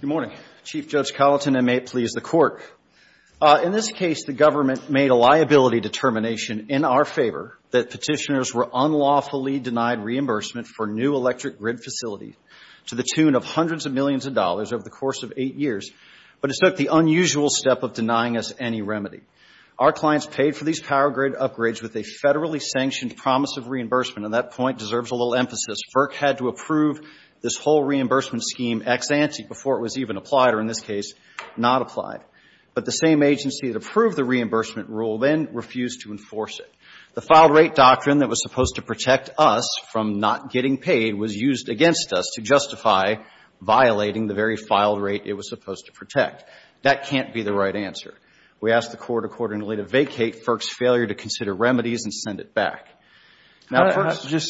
Good morning, Chief Judge Colleton, and may it please the Court. In this case, the government made a liability determination in our favor that petitioners were unlawfully denied reimbursement for new electric grid facilities to the tune of hundreds of millions of dollars over the course of eight years, but it took the unusual step of denying us any remedy. Our clients paid for these power grid upgrades with a federally sanctioned promise of reimbursement, and that point deserves a little emphasis. FERC had to approve this whole reimbursement scheme ex-ante before it was even applied, or in this case, not applied. But the same agency that approved the reimbursement rule then refused to enforce it. The filed rate doctrine that was supposed to protect us from not getting paid was used against us to justify violating the very filed rate it was supposed to protect. That can't be the right answer. We ask the Court accordingly to vacate FERC's failure to consider remedies and send it back. Now, FERC's — The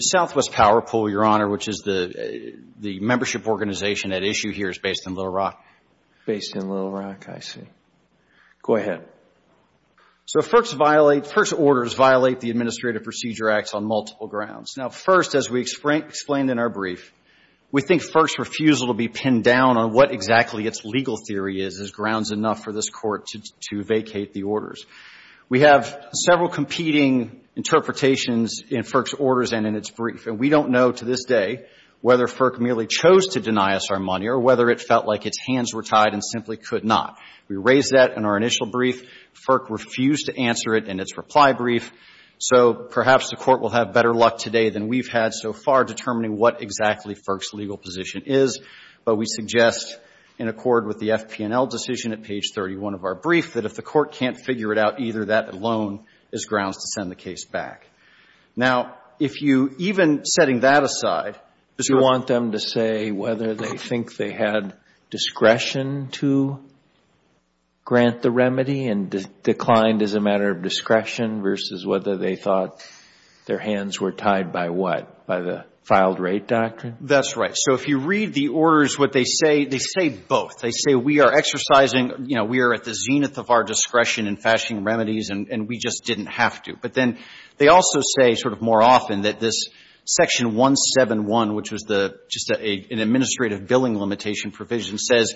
Southwest Power Pool, Your Honor, which is the membership organization at issue here, is based in Little Rock. Based in Little Rock, I see. Go ahead. So FERC's orders violate the Administrative Procedure Acts on multiple grounds. Now, first, as we explained in our brief, we think FERC's refusal to be pinned down on what exactly its legal theory is is grounds enough for this Court to vacate the orders. We have several competing interpretations in FERC's orders and in its brief, and we don't know to this day whether FERC merely chose to deny us our money or whether it felt like its hands were tied and simply could not. We raised that in our initial brief. FERC refused to answer it in its reply brief. So perhaps the Court will have better luck today than we've had so far determining what exactly FERC's legal position is. But we suggest, in accord with the FP&L decision at page 31 of our brief, that if the Court can't figure it out either, that alone is grounds to send the case back. Now, if you — even setting that aside, you want them to say whether they think they had discretion to grant the remedy and declined as a matter of discretion versus whether they thought their hands were tied by what, by the filed-rate doctrine? That's right. So if you read the orders, what they say, they say both. They say we are exercising, you know, we are at the zenith of our discretion in fashioning remedies and we just didn't have to. But then they also say sort of more often that this Section 171, which was the — just an administrative billing limitation provision, says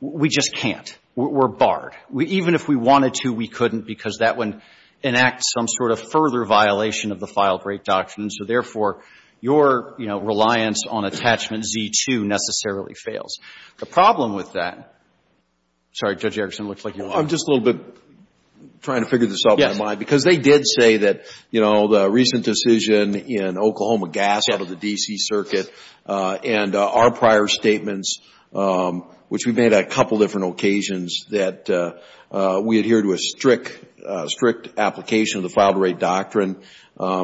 we just can't. We're barred. Even if we wanted to, we couldn't, because that would enact some sort of further violation of the filed-rate doctrine. So therefore, your, you know, reliance on Attachment Z-2 necessarily fails. The problem with that — sorry, Judge Erickson, it looks like you're lost. I'm just a little bit trying to figure this out in my mind. Yes. Because they did say that, you know, the recent decision in Oklahoma gas out of the D.C. Circuit and our prior statements, which we made on a couple of different occasions, that we adhere to a strict, strict application of the filed-rate doctrine,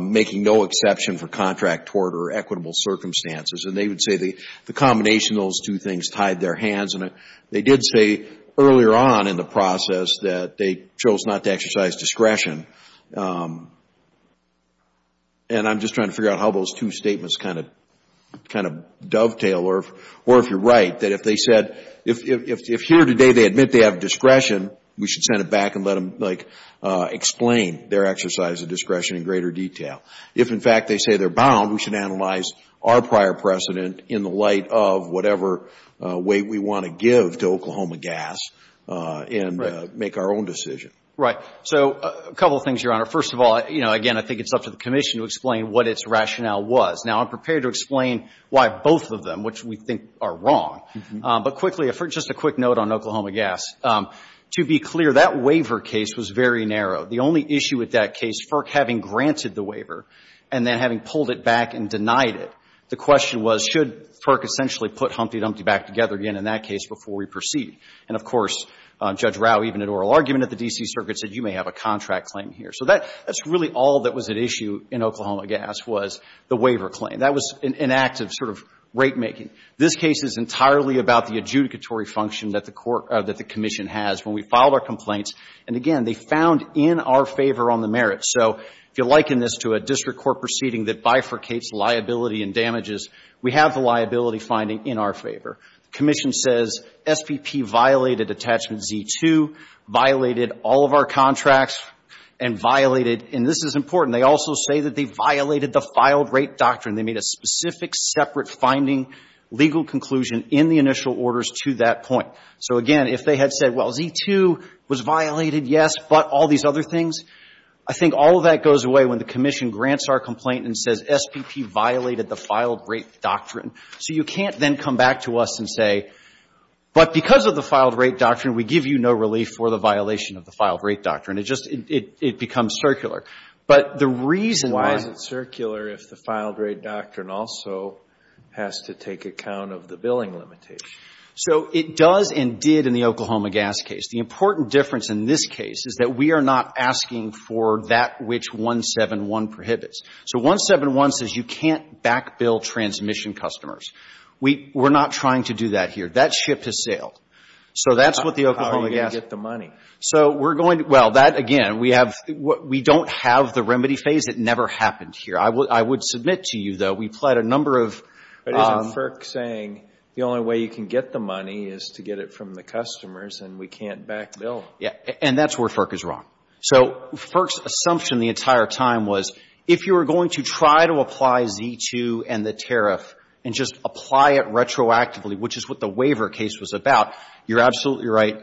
making no exception for contract tort or equitable circumstances. And they would say the combination of those two things tied their hands. And they did say earlier on in the process that they chose not to exercise discretion. And I'm just trying to figure out how those two statements kind of dovetail. Or if you're right, that if they said — if here today they admit they have discretion, we should send it back and let them, like, explain their exercise of discretion in greater detail. If, in fact, they say they're bound, we should analyze our prior precedent in the light of whatever weight we want to give to Oklahoma gas and make our own decision. Right. So, a couple of things, Your Honor. First of all, you know, again, I think it's up to the Commission to explain what its rationale was. Now, I'm prepared to explain why both of them, which we think are wrong. But quickly, just a quick note on Oklahoma gas. To be clear, that waiver case was very narrow. The only issue with that case, FERC having granted the waiver and then having pulled it back and denied it, the question was, should FERC essentially put Humpty Dumpty back together again in that case before we proceed? And, of course, Judge Rau, even at oral argument at the D.C. Circuit, said, you may have a contract claim here. So that's really all that was at issue in Oklahoma gas was the waiver claim. That was an act of sort of rate-making. This case is entirely about the adjudicatory function that the Commission has. When we filed our complaints, and again, they found in our favor on the merits. So, if you liken this to a district court proceeding that bifurcates liability and damages, we have the liability finding in our favor. Commission says, SPP violated attachment Z-2, violated all of our contracts, and violated, and this is important, they also say that they violated the filed rate doctrine. They made a specific, separate finding, legal conclusion in the initial orders to that point. So, again, if they had said, well, Z-2 was violated, yes, but all these other things, I think all of that goes away when the Commission grants our complaint and says, SPP violated the filed rate doctrine. So you can't then come back to us and say, but because of the filed rate doctrine, we give you no relief for the violation of the filed rate doctrine. It just, it becomes circular. But the reason why why is it circular if the filed rate doctrine also has to take account of the billing limitation? So it does and did in the Oklahoma gas case. The important difference in this case is that we are not asking for that which 171 prohibits. So 171 says you can't backbill transmission customers. We're not trying to do that here. That ship has sailed. So that's what the Oklahoma gas. How are you going to get the money? So we're going to, well, that, again, we have, we don't have the remedy phase. It never happened here. I would submit to you, though, we pled a number of. But isn't FERC saying the only way you can get the money is to get it from the customers and we can't backbill? Yeah. And that's where FERC is wrong. So FERC's assumption the entire time was if you were going to try to apply Z2 and the tariff and just apply it retroactively, which is what the waiver case was about, you're absolutely right,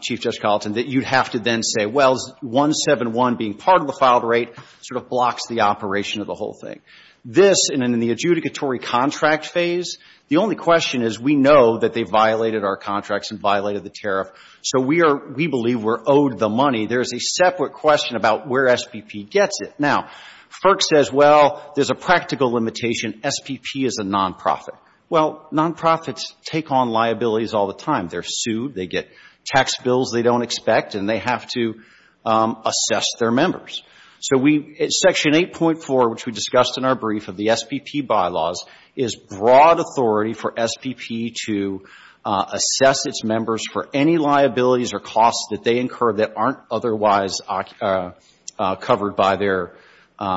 Chief Judge Colleton, that you'd have to then say, well, 171 being part of the filed rate sort of blocks the operation of the whole thing. This, and in the adjudicatory contract phase, the only question is we know that they violated our contracts and violated the tariff. So we are, we believe we're owed the money. There's a separate question about where SPP gets it. Now, FERC says, well, there's a practical limitation. SPP is a nonprofit. Well, nonprofits take on liabilities all the time. They're sued. They get tax bills they don't expect. And they have to assess their members. So we, Section 8.4, which we discussed in our brief of the SPP bylaws, is broad authority for SPP to assess its members for any liabilities or costs that they incur that aren't otherwise covered by their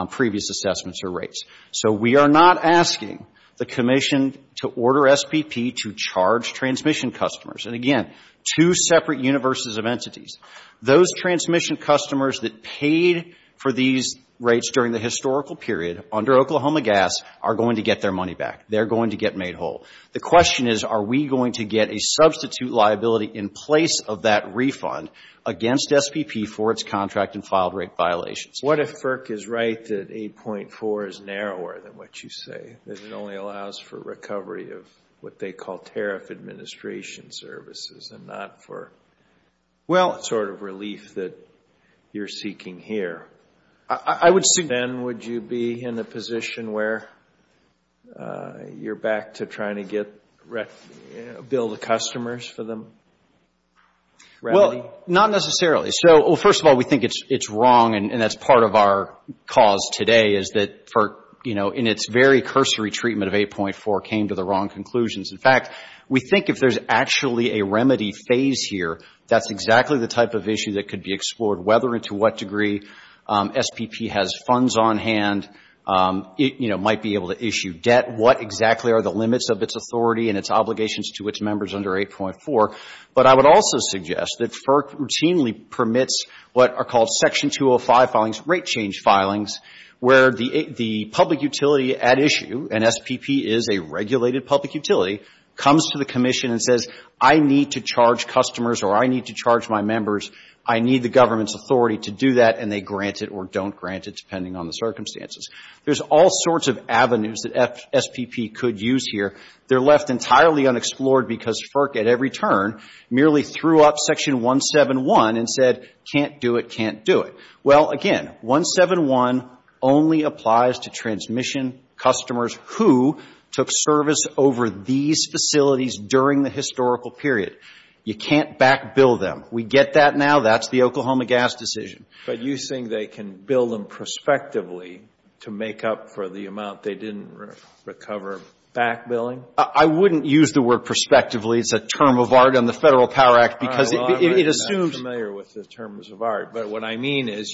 previous assessments or rates. So we are not asking the Commission to order SPP to charge transmission customers. And again, two separate universes of entities. Those transmission customers that paid for these rates during the historical period, under Oklahoma Gas, are going to get their money back. They're going to get made whole. The question is, are we going to get a substitute liability in place of that refund against SPP for its contract and filed rate violations? What if FERC is right that 8.4 is narrower than what you say? That it only allows for recovery of what they call tariff administration services and not FERC? That's the sort of relief that you're seeking here. Then would you be in the position where you're back to trying to get, bill the customers for the remedy? Well, not necessarily. So, well, first of all, we think it's wrong. And that's part of our cause today is that FERC, you know, in its very cursory treatment of 8.4, came to the wrong conclusions. In fact, we think if there's actually a remedy phase here, that's exactly the type of issue that could be explored, whether and to what degree SPP has funds on hand, you know, might be able to issue debt, what exactly are the limits of its authority and its obligations to its members under 8.4. But I would also suggest that FERC routinely permits what are called Section 205 filings, rate change filings, where the public utility at issue, and SPP is a regulated public utility, comes to the Commission and says, I need to charge customers or I need to charge my members. I need the government's authority to do that. And they grant it or don't grant it, depending on the circumstances. There's all sorts of avenues that SPP could use here. They're left entirely unexplored because FERC at every turn merely threw up Section 171 and said, can't do it, can't do it. Well, again, 171 only applies to transmission customers who took service over these facilities during the historical period. You can't back-bill them. We get that now. That's the Oklahoma Gas decision. But you think they can bill them prospectively to make up for the amount they didn't recover back-billing? I wouldn't use the word prospectively. It's a term of art on the Federal Power Act because it assumes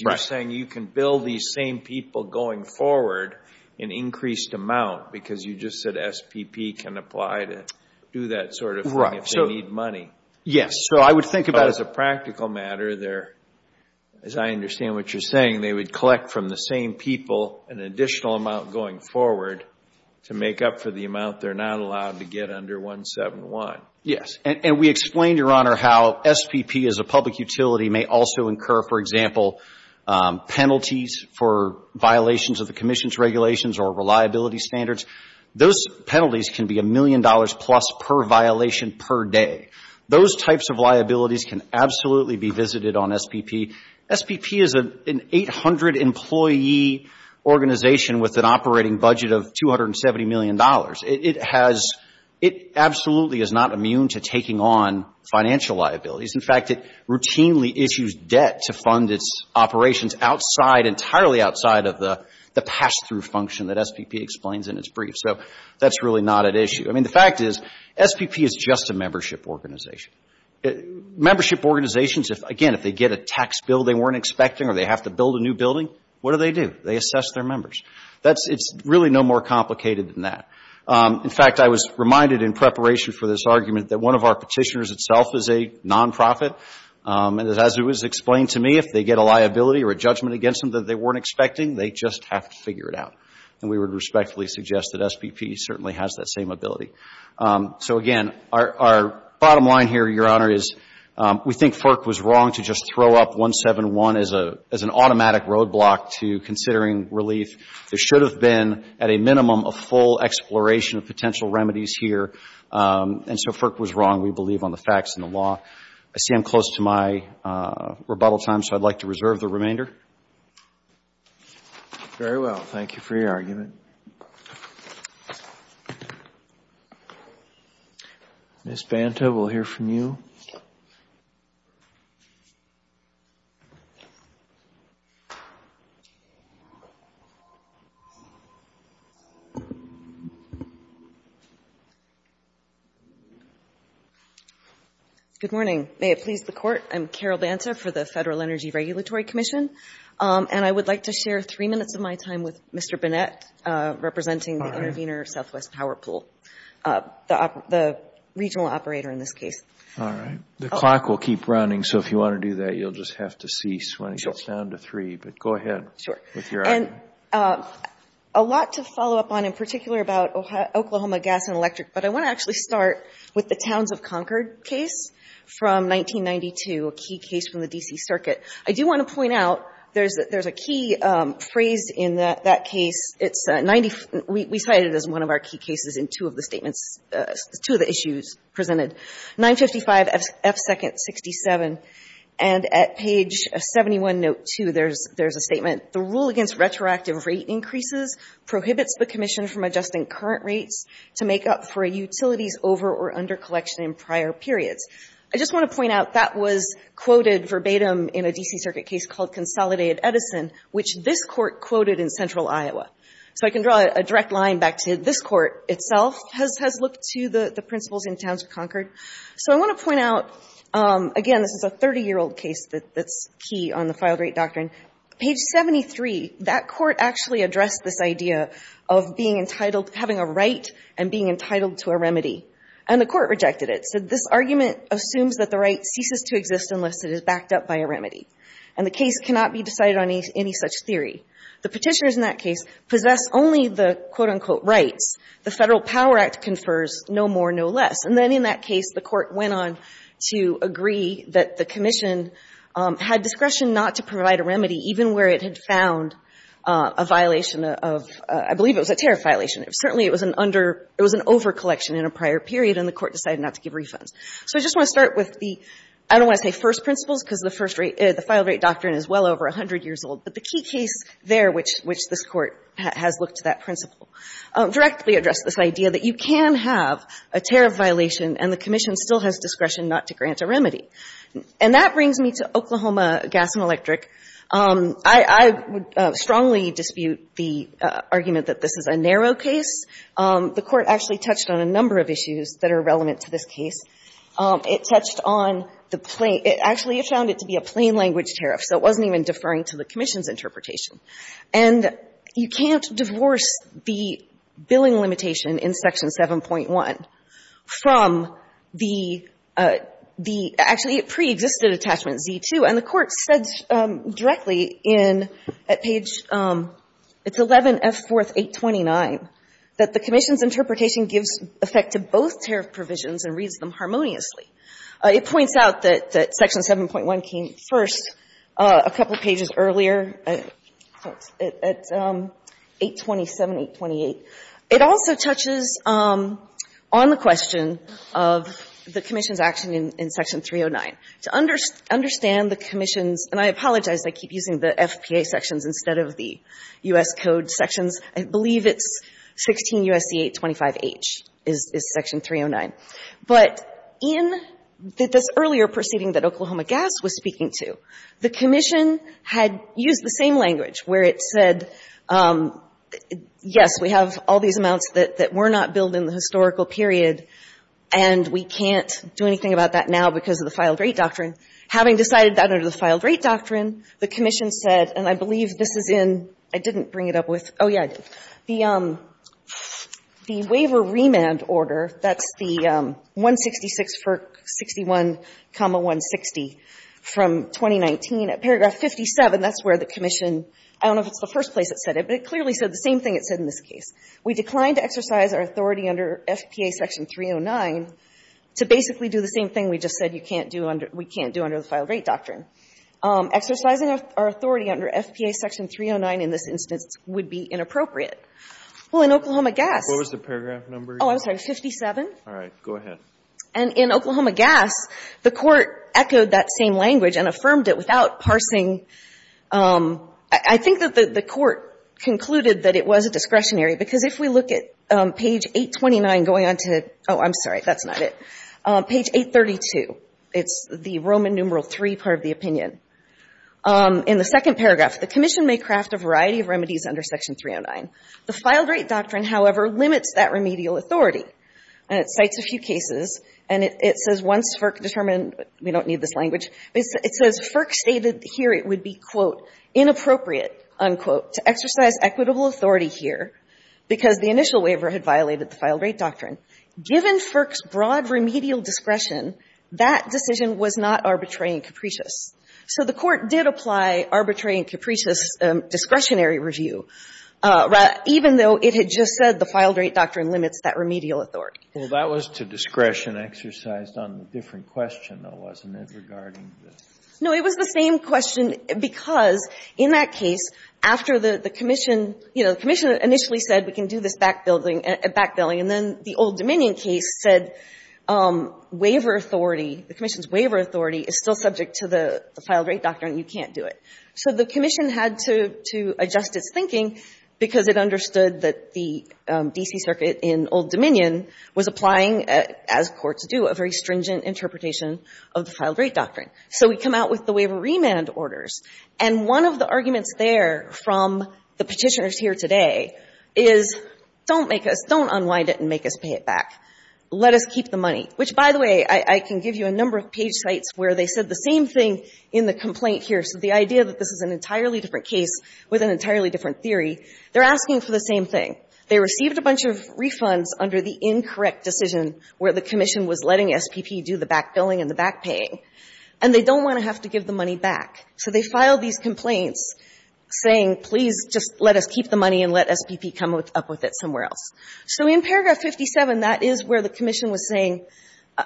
— You're saying you can bill these same people going forward an increased amount because you just said SPP can apply to do that sort of thing if they need money. Yes. So I would think about — As a practical matter, as I understand what you're saying, they would collect from the same people an additional amount going forward to make up for the amount they're not allowed to get under 171. Yes. And we explained, Your Honor, how SPP as a public utility may also incur, for example, penalties for violations of the Commission's regulations or reliability standards. Those penalties can be a million dollars plus per violation per day. Those types of liabilities can absolutely be visited on SPP. SPP is an 800-employee organization with an operating budget of $270 million. It has — it absolutely is not immune to taking on financial liabilities. In fact, it routinely issues debt to fund its operations outside — entirely outside of the pass-through function that SPP explains in its brief. So that's really not at issue. I mean, the fact is, SPP is just a membership organization. Membership organizations, again, if they get a tax bill they weren't expecting or they have to build a new building, what do they do? They assess their members. That's — it's really no more complicated than that. In fact, I was reminded in preparation for this argument that one of our petitioners itself is a nonprofit. And as it was explained to me, if they get a liability or a judgment against them that they weren't expecting, they just have to figure it out. And we would respectfully suggest that SPP certainly has that same ability. So again, our bottom line here, Your Honor, is we think FERC was wrong to just throw up relief. There should have been, at a minimum, a full exploration of potential remedies here. And so FERC was wrong, we believe, on the facts and the law. I see I'm close to my rebuttal time, so I'd like to reserve the remainder. Very well. Thank you for your argument. Ms. Banta, we'll hear from you. Good morning. May it please the Court. I'm Carol Banta for the Federal Energy Regulatory Commission. And I would like to share three minutes of my time with Mr. Bennett, representing the Intervenor Southwest Power Pool, the regional operator in this case. All right. The clock will keep running. So if you want to do that, you'll just have to cease when it gets down to three. But go ahead with your argument. Sure. A lot to follow up on, in particular, about Oklahoma Gas and Electric. But I want to actually start with the Towns of Concord case from 1992, a key case from the D.C. Circuit. I do want to point out, there's a key phrase in that case. We cite it as one of our key cases in two of the statements, two of the issues presented. 955 F. Second 67. And at page 71, note 2, there's a statement. The rule against retroactive rate increases prohibits the Commission from adjusting current rates to make up for a utility's over- or under-collection in prior periods. I just want to point out, that was quoted verbatim in a D.C. Circuit case called Consolidated Edison, which this Court quoted in Central Iowa. So I can draw a direct line back to this Court itself has looked to the principles in Towns of Concord. So I want to point out, again, this is a 30-year-old case that's key on the filed rate doctrine. Page 73, that Court actually addressed this idea of having a right and being entitled to a remedy. And the Court rejected it. This argument assumes that the right ceases to exist unless it is backed up by a remedy. And the case cannot be decided on any such theory. The Petitioners in that case possess only the, quote, unquote, rights. The Federal Power Act confers no more, no less. And then in that case, the Court went on to agree that the Commission had discretion not to provide a remedy, even where it had found a violation of — I believe it was a tariff violation. Certainly, it was an under — it was an over-collection in a prior period, and the So I just want to start with the — I don't want to say first principles, because the first rate — the filed rate doctrine is well over 100 years old. But the key case there, which this Court has looked to that principle, directly addressed this idea that you can have a tariff violation, and the Commission still has discretion not to grant a remedy. And that brings me to Oklahoma Gas and Electric. I would strongly dispute the argument that this is a narrow case. The Court actually touched on a number of issues that are relevant to this case. It touched on the plain — it actually found it to be a plain language tariff, so it wasn't even deferring to the Commission's interpretation. And you can't divorce the billing limitation in Section 7.1 from the — the — actually, it preexisted Attachment Z2. And the Court said directly in — at page — it's 11F4, 829, that the Commission's interpretation gives effect to both tariff provisions and reads them harmoniously. It points out that Section 7.1 came first a couple pages earlier, at 827, 828. It also touches on the question of the Commission's action in Section 309. To understand the Commission's — and I apologize. I keep using the FPA sections instead of the U.S. Code sections. I believe it's 16 U.S.C. 825H is Section 309. But in this earlier proceeding that Oklahoma Gas was speaking to, the Commission had used the same language, where it said, yes, we have all these amounts that — that were not billed in the historical period, and we can't do anything about that now because of the Filed Rate Doctrine. Having decided that under the Filed Rate Doctrine, the Commission said — and I believe this is in — I didn't bring it up with — oh, yeah, I did. The — the Waiver Remand Order, that's the 166, 61, 160 from 2019, at paragraph 57, that's where the Commission — I don't know if it's the first place it said it, but it clearly said the same thing it said in this case. We declined to exercise our authority under FPA Section 309 to basically do the same thing we just said you can't do under — we can't do under the Filed Rate Doctrine. Exercising our authority under FPA Section 309 in this instance would be inappropriate. Well, in Oklahoma Gas — What was the paragraph number? Oh, I'm sorry. 57. All right. Go ahead. And in Oklahoma Gas, the Court echoed that same language and affirmed it without parsing — I think that the Court concluded that it was a discretionary, because if we look at page 829 going on to — oh, I'm sorry. That's not it. Page 832. It's the Roman numeral III part of the opinion. In the second paragraph, the Commission may craft a variety of remedies under Section 309. The Filed Rate Doctrine, however, limits that remedial authority, and it cites a few cases, and it says once FERC determined — we don't need this language — it says FERC stated here it would be, quote, inappropriate, unquote, to exercise equitable authority here because the initial waiver had violated the Filed Rate Doctrine. Given FERC's broad remedial discretion, that decision was not arbitrary and capricious. So the Court did apply arbitrary and capricious discretionary review, even though it had just said the Filed Rate Doctrine limits that remedial authority. Well, that was to discretion exercised on a different question, though, wasn't it, regarding the — No, it was the same question because in that case, after the Commission — you know, back billing, and then the Old Dominion case said waiver authority, the Commission's waiver authority is still subject to the Filed Rate Doctrine. You can't do it. So the Commission had to adjust its thinking because it understood that the D.C. Circuit in Old Dominion was applying, as courts do, a very stringent interpretation of the Filed Rate Doctrine. So we come out with the waiver remand orders. And one of the arguments there from the Petitioners here today is, don't make us — don't unwind it and make us pay it back. Let us keep the money. Which, by the way, I can give you a number of page sites where they said the same thing in the complaint here. So the idea that this is an entirely different case with an entirely different theory, they're asking for the same thing. They received a bunch of refunds under the incorrect decision where the Commission was letting SPP do the back billing and the back paying, and they don't want to have to give the money back. So they filed these complaints saying, please, just let us keep the money and let SPP come up with it somewhere else. So in paragraph 57, that is where the Commission was saying,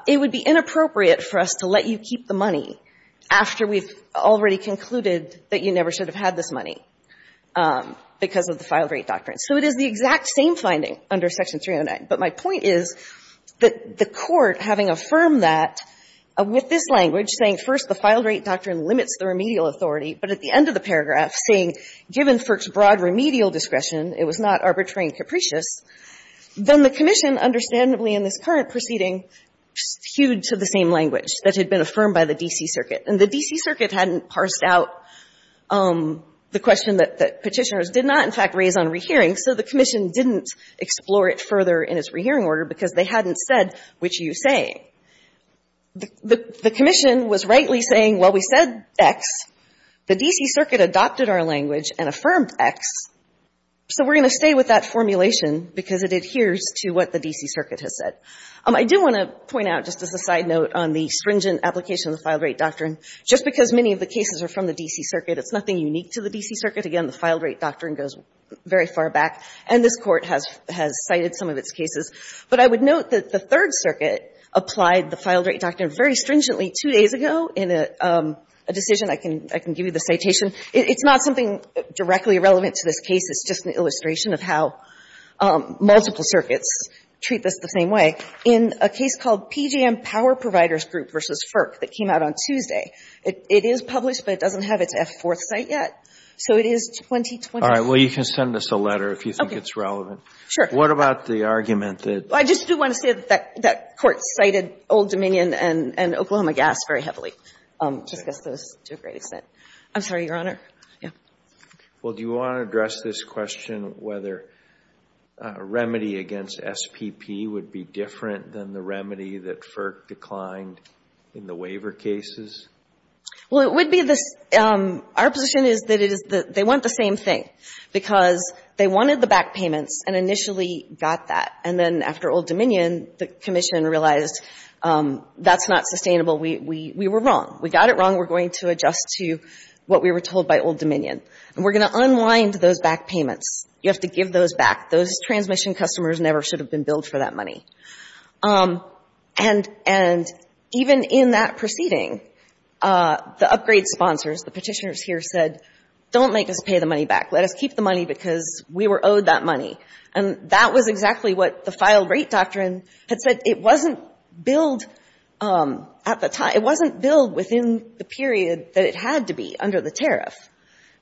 it would be inappropriate for us to let you keep the money after we've already concluded that you never should have had this money because of the Filed Rate Doctrine. So it is the exact same finding under Section 309. But my point is that the Court, having affirmed that with this language, saying, first, the Filed Rate Doctrine limits the remedial authority, but at the end of the paragraph, saying, given FERC's broad remedial discretion, it was not arbitrary and capricious, then the Commission, understandably in this current proceeding, hewed to the same language that had been affirmed by the D.C. Circuit. And the D.C. Circuit hadn't parsed out the question that Petitioners did not, in fact, raise on rehearing, so the Commission didn't explore it further in its rehearing order because they hadn't said which you say. The Commission was rightly saying, well, we said X, the D.C. Circuit adopted our language and affirmed X, so we're going to stay with that formulation because it adheres to what the D.C. Circuit has said. I do want to point out, just as a side note, on the stringent application of the Filed Rate Doctrine, just because many of the cases are from the D.C. Circuit, it's nothing unique to the D.C. Circuit. Again, the Filed Rate Doctrine goes very far back, and this Court has cited some of its cases. But I would note that the Third Circuit applied the Filed Rate Doctrine very stringently two days ago in a decision. I can give you the citation. It's not something directly relevant to this case. It's just an illustration of how multiple circuits treat this the same way. In a case called PGM Power Providers Group v. FERC that came out on Tuesday, it is published, but it doesn't have its F-4th cite yet. So it is 2020. All right. Well, you can send us a letter if you think it's relevant. Sure. What about the argument that? I just do want to say that that Court cited Old Dominion and Oklahoma Gas very heavily to discuss those to a great extent. I'm sorry, Your Honor. Yeah. Well, do you want to address this question whether a remedy against SPP would be different than the remedy that FERC declined in the waiver cases? Well, it would be the — our position is that it is the — they want the same thing, because they wanted the back payments and initially got that. And then after Old Dominion, the Commission realized that's not sustainable. We were wrong. We got it wrong. We're going to adjust to what we were told by Old Dominion. And we're going to unwind those back payments. You have to give those back. Those transmission customers never should have been billed for that money. And even in that proceeding, the upgrade sponsors, the petitioners here said, don't make us pay the money back. Let us keep the money because we were owed that money. And that was exactly what the filed rate doctrine had said. It wasn't billed at the time. It wasn't billed within the period that it had to be under the tariff.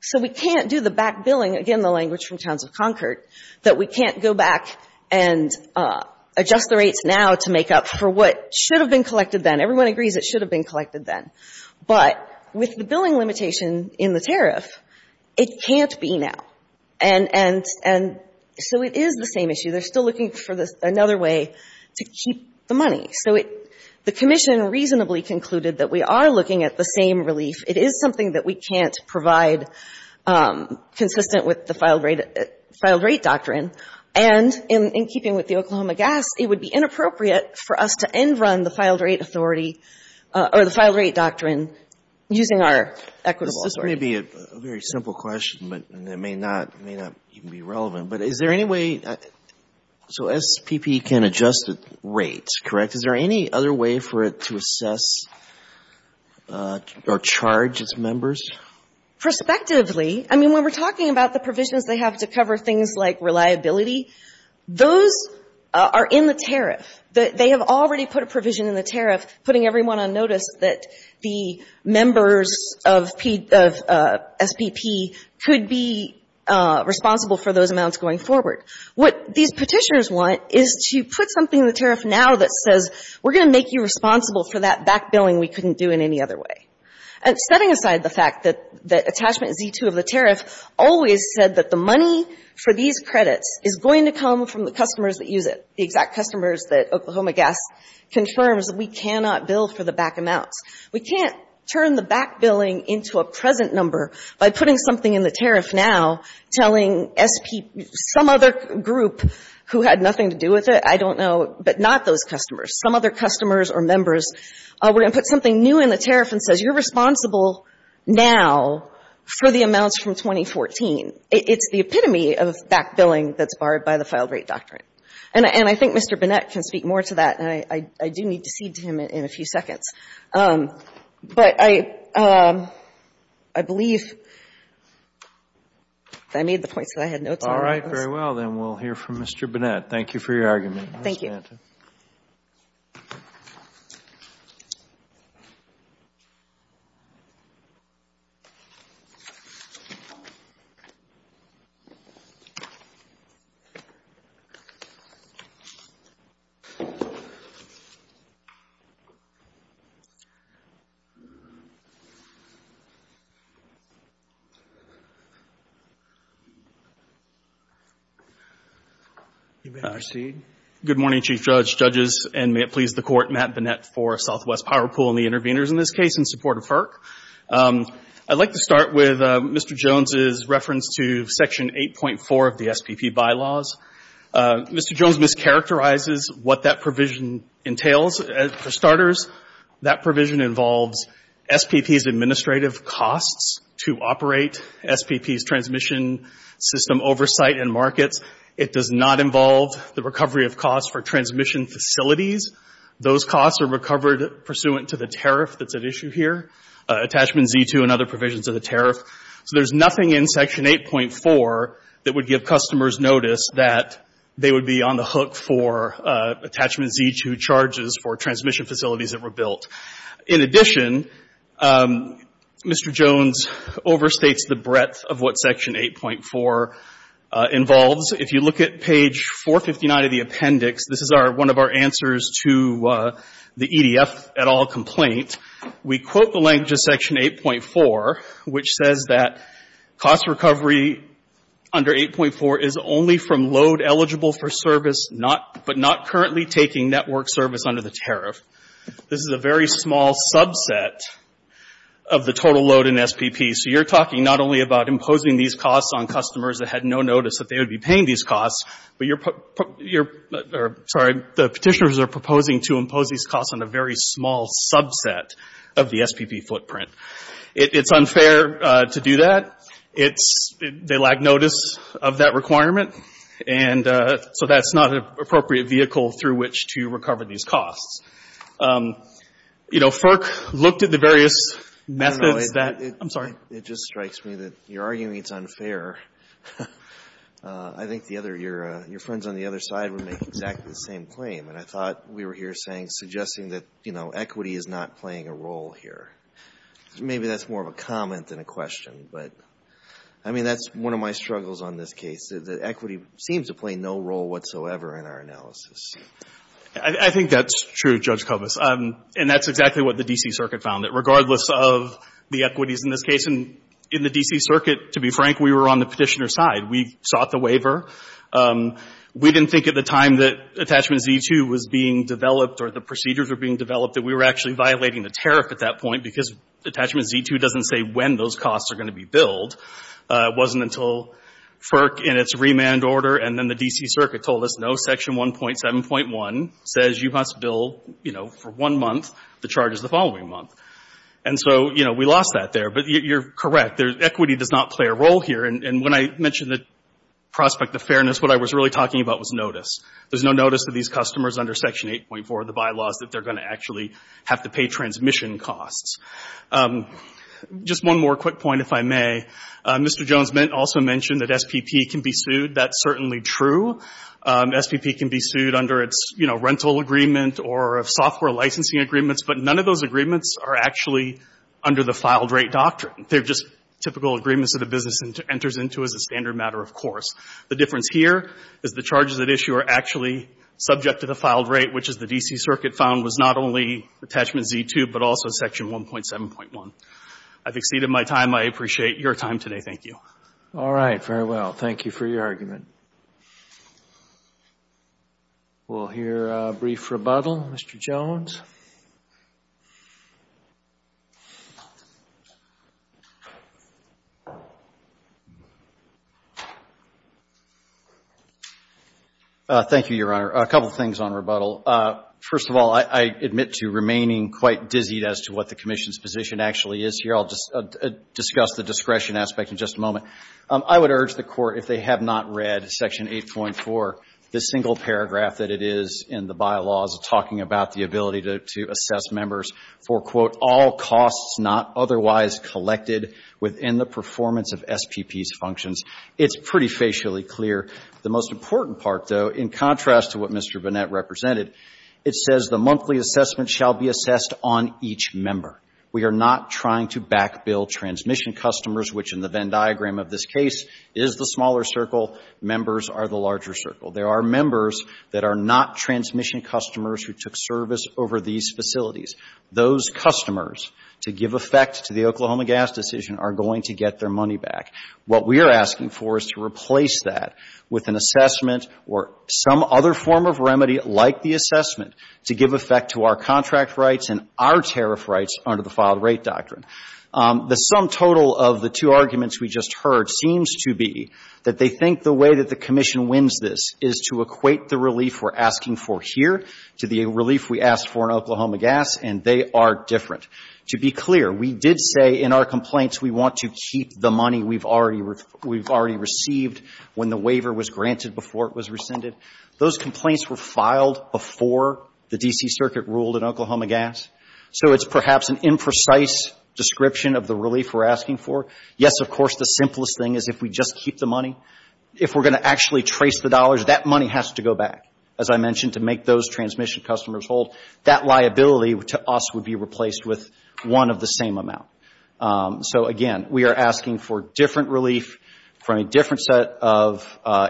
So we can't do the back billing, again, the language from Towns of Concord, that we can't go back and adjust the rates now to make up for what should have been collected then. Everyone agrees it should have been collected then. But with the billing limitation in the tariff, it can't be now. And so it is the same issue. They're still looking for another way to keep the money. So the Commission reasonably concluded that we are looking at the same relief. It is something that we can't provide consistent with the filed rate doctrine. And in keeping with the Oklahoma gas, it would be inappropriate for us to end run the filed rate authority or the filed rate doctrine using our equitable authority. This may be a very simple question, but it may not even be relevant. But is there any way so SPP can adjust the rates, correct? Is there any other way for it to assess or charge its members? Prospectively. I mean, when we're talking about the provisions they have to cover things like reliability, those are in the tariff. They have already put a provision in the tariff, putting everyone on notice that the members of SPP could be responsible for those amounts going forward. What these petitioners want is to put something in the tariff now that says, we're going to make you responsible for that back billing we couldn't do in any other way. Setting aside the fact that attachment Z2 of the tariff always said that the money for these credits is going to come from the customers that use it, the exact customers that Oklahoma Gas confirms that we cannot bill for the back amounts. We can't turn the back billing into a present number by putting something in the tariff now telling some other group who had nothing to do with it, I don't know, but not those customers, some other customers or members, we're going to put something new in the tariff and say, you're responsible now for the amounts from 2014. It's the epitome of back billing that's barred by the filed rate doctrine. And I think Mr. Burnett can speak more to that, and I do need to cede to him in a few seconds. But I believe I made the point that I had no time. All right. Very well. Then we'll hear from Mr. Burnett. Thank you for your argument. Thank you. You may proceed. Good morning, Chief Judge, judges, and may it please the Court, Matt Burnett for Southwest Power Pool and the intervenors in this case in support of FERC. I'd like to start with Mr. Jones's reference to Section 8.4 of the SPP bylaws. Mr. Jones mischaracterizes what that provision entails. For starters, that provision involves SPP's administrative costs to operate SPP's transmission system oversight and markets. It does not involve the recovery of costs for transmission facilities. Those costs are recovered pursuant to the tariff that's at issue here, attachment Z2 and other provisions of the tariff. So there's nothing in Section 8.4 that would give customers notice that they would be on the hook for attachment Z2 charges for transmission facilities that were built. In addition, Mr. Jones overstates the breadth of what Section 8.4 involves. If you look at page 459 of the appendix, this is one of our answers to the EDF et al complaint. We quote the language of Section 8.4, which says that cost recovery under 8.4 is only from load eligible for service, but not currently taking network service under the tariff. This is a very small subset of the total load in SPP. So you're talking not only about imposing these costs on customers that had no notice that they would be paying these costs, but you're, sorry, the petitioners are proposing to impose these costs on a very small subset of the SPP footprint. It's unfair to do that. It's, they lack notice of that requirement. And so that's not an appropriate vehicle through which to recover these costs. You know, FERC looked at the various methods that, I'm sorry. Alito, it just strikes me that you're arguing it's unfair. I think the other, your friends on the other side would make exactly the same claim. And I thought we were here saying, suggesting that, you know, equity is not playing a role here. Maybe that's more of a comment than a question. But I mean, that's one of my struggles on this case, that equity seems to play no role whatsoever in our analysis. I think that's true, Judge Kovas. And that's exactly what the D.C. Circuit found, that regardless of the equities in this case, and in the D.C. Circuit, to be frank, we were on the petitioner's side. We sought the waiver. We didn't think at the time that Attachment Z-2 was being developed, or the procedures were being developed, that we were actually violating the tariff at that point, because Attachment Z-2 doesn't say when those costs are going to be billed. It wasn't until FERC, in its remand order, and then the D.C. Circuit told us, no, Section 1.7.1 says you must bill, you know, for one month. The charge is the following month. And so, you know, we lost that there. But you're correct. Equity does not play a role here. And when I mentioned the prospect of fairness, what I was really talking about was notice. There's no notice to these customers under Section 8.4 of the bylaws that they're going to actually have to pay transmission costs. Just one more quick point, if I may. Mr. Jones also mentioned that SPP can be sued. That's certainly true. SPP can be sued under its, you know, rental agreement, or software licensing agreements. But none of those agreements are actually under the filed rate doctrine. They're just typical agreements that a business enters into as a standard matter, of course. The difference here is the charges at issue are actually subject to the filed rate, which, as the D.C. Circuit found, was not only attachment Z2, but also Section 1.7.1. I've exceeded my time. I appreciate your time today. Thank you. All right. Very well. Thank you for your argument. We'll hear a brief rebuttal. Mr. Jones. Thank you, Your Honor. A couple of things on rebuttal. First of all, I admit to remaining quite dizzied as to what the Commission's position actually is here. I'll just discuss the discretion aspect in just a moment. I would urge the Court, if they have not read Section 8.4, the single paragraph that it is in the bylaws talking about the ability to assess members for, quote, all costs not otherwise collected within the performance of SPP's functions. It's pretty facially clear. The most important part, though, in contrast to what Mr. Bonnett represented, it says the monthly assessment shall be assessed on each member. We are not trying to back-bill transmission customers, which in the Venn diagram of this case is the smaller circle. Members are the larger circle. There are members that are not transmission customers who took service over these facilities. Those customers, to give effect to the Oklahoma gas decision, are going to get their money back. What we are asking for is to replace that with an assessment or some other form of remedy like the assessment to give effect to our contract rights and our tariff rights under the filed rate doctrine. The sum total of the two arguments we just heard seems to be that they think the way that the Commission wins this is to equate the relief we're asking for here to the relief we asked for in Oklahoma gas, and they are different. To be clear, we did say in our complaints we want to keep the money we've already received when the waiver was granted before it was rescinded. Those complaints were filed before the D.C. Circuit ruled in Oklahoma gas, so it's perhaps an imprecise description of the relief we're asking for. Yes, of course, the simplest thing is if we just keep the money. If we're going to actually trace the dollars, that money has to go back, as I customers hold, that liability to us would be replaced with one of the same amount. So, again, we are asking for different relief from a different set of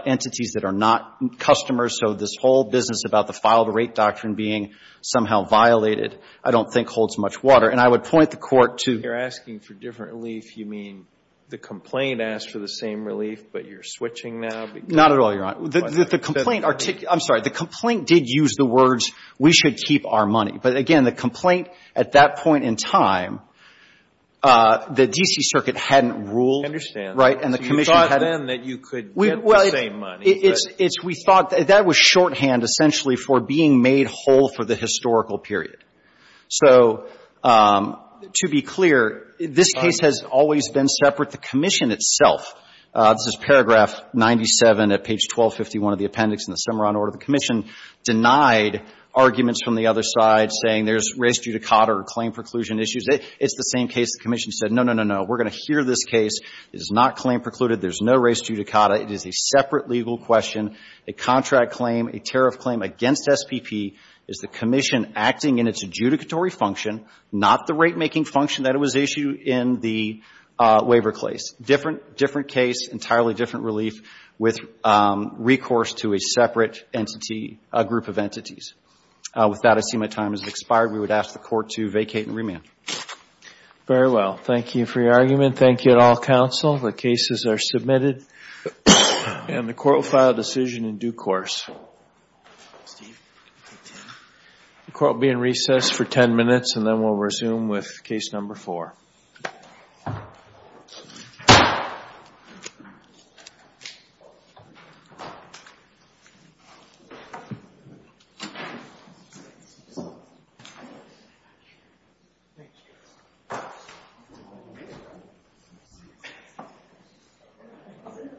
entities that are not customers, so this whole business about the filed rate doctrine being somehow violated I don't think holds much water. And I would point the Court to... If you're asking for different relief, you mean the complaint asked for the same relief, but you're switching now? Not at all, Your Honor. The complaint did use the words, we should keep our money. But, again, the complaint at that point in time, the D.C. Circuit hadn't ruled. I understand. Right? And the Commission hadn't... So you thought then that you could get the same money. Well, it's we thought that was shorthand essentially for being made whole for the historical period. So, to be clear, this case has always been separate. The Commission itself, this is paragraph 97 at page 1251 of the appendix in the Cimarron order, the Commission denied arguments from the other side saying there's race judicata or claim preclusion issues. It's the same case. The Commission said, no, no, no, no. We're going to hear this case. It is not claim precluded. There's no race judicata. It is a separate legal question, a contract claim, a tariff claim against SPP. Is the Commission acting in its adjudicatory function, not the ratemaking function that it was issued in the waiver case? Different case, entirely different relief with recourse to a separate entity, a group of entities. With that, I see my time has expired. We would ask the Court to vacate and remand. Very well. Thank you for your argument. Thank you at all, Counsel. The cases are submitted and the Court will file a decision in due course. Steve, you take 10? The Court will be in recess for 10 minutes and then we'll resume with case number 4.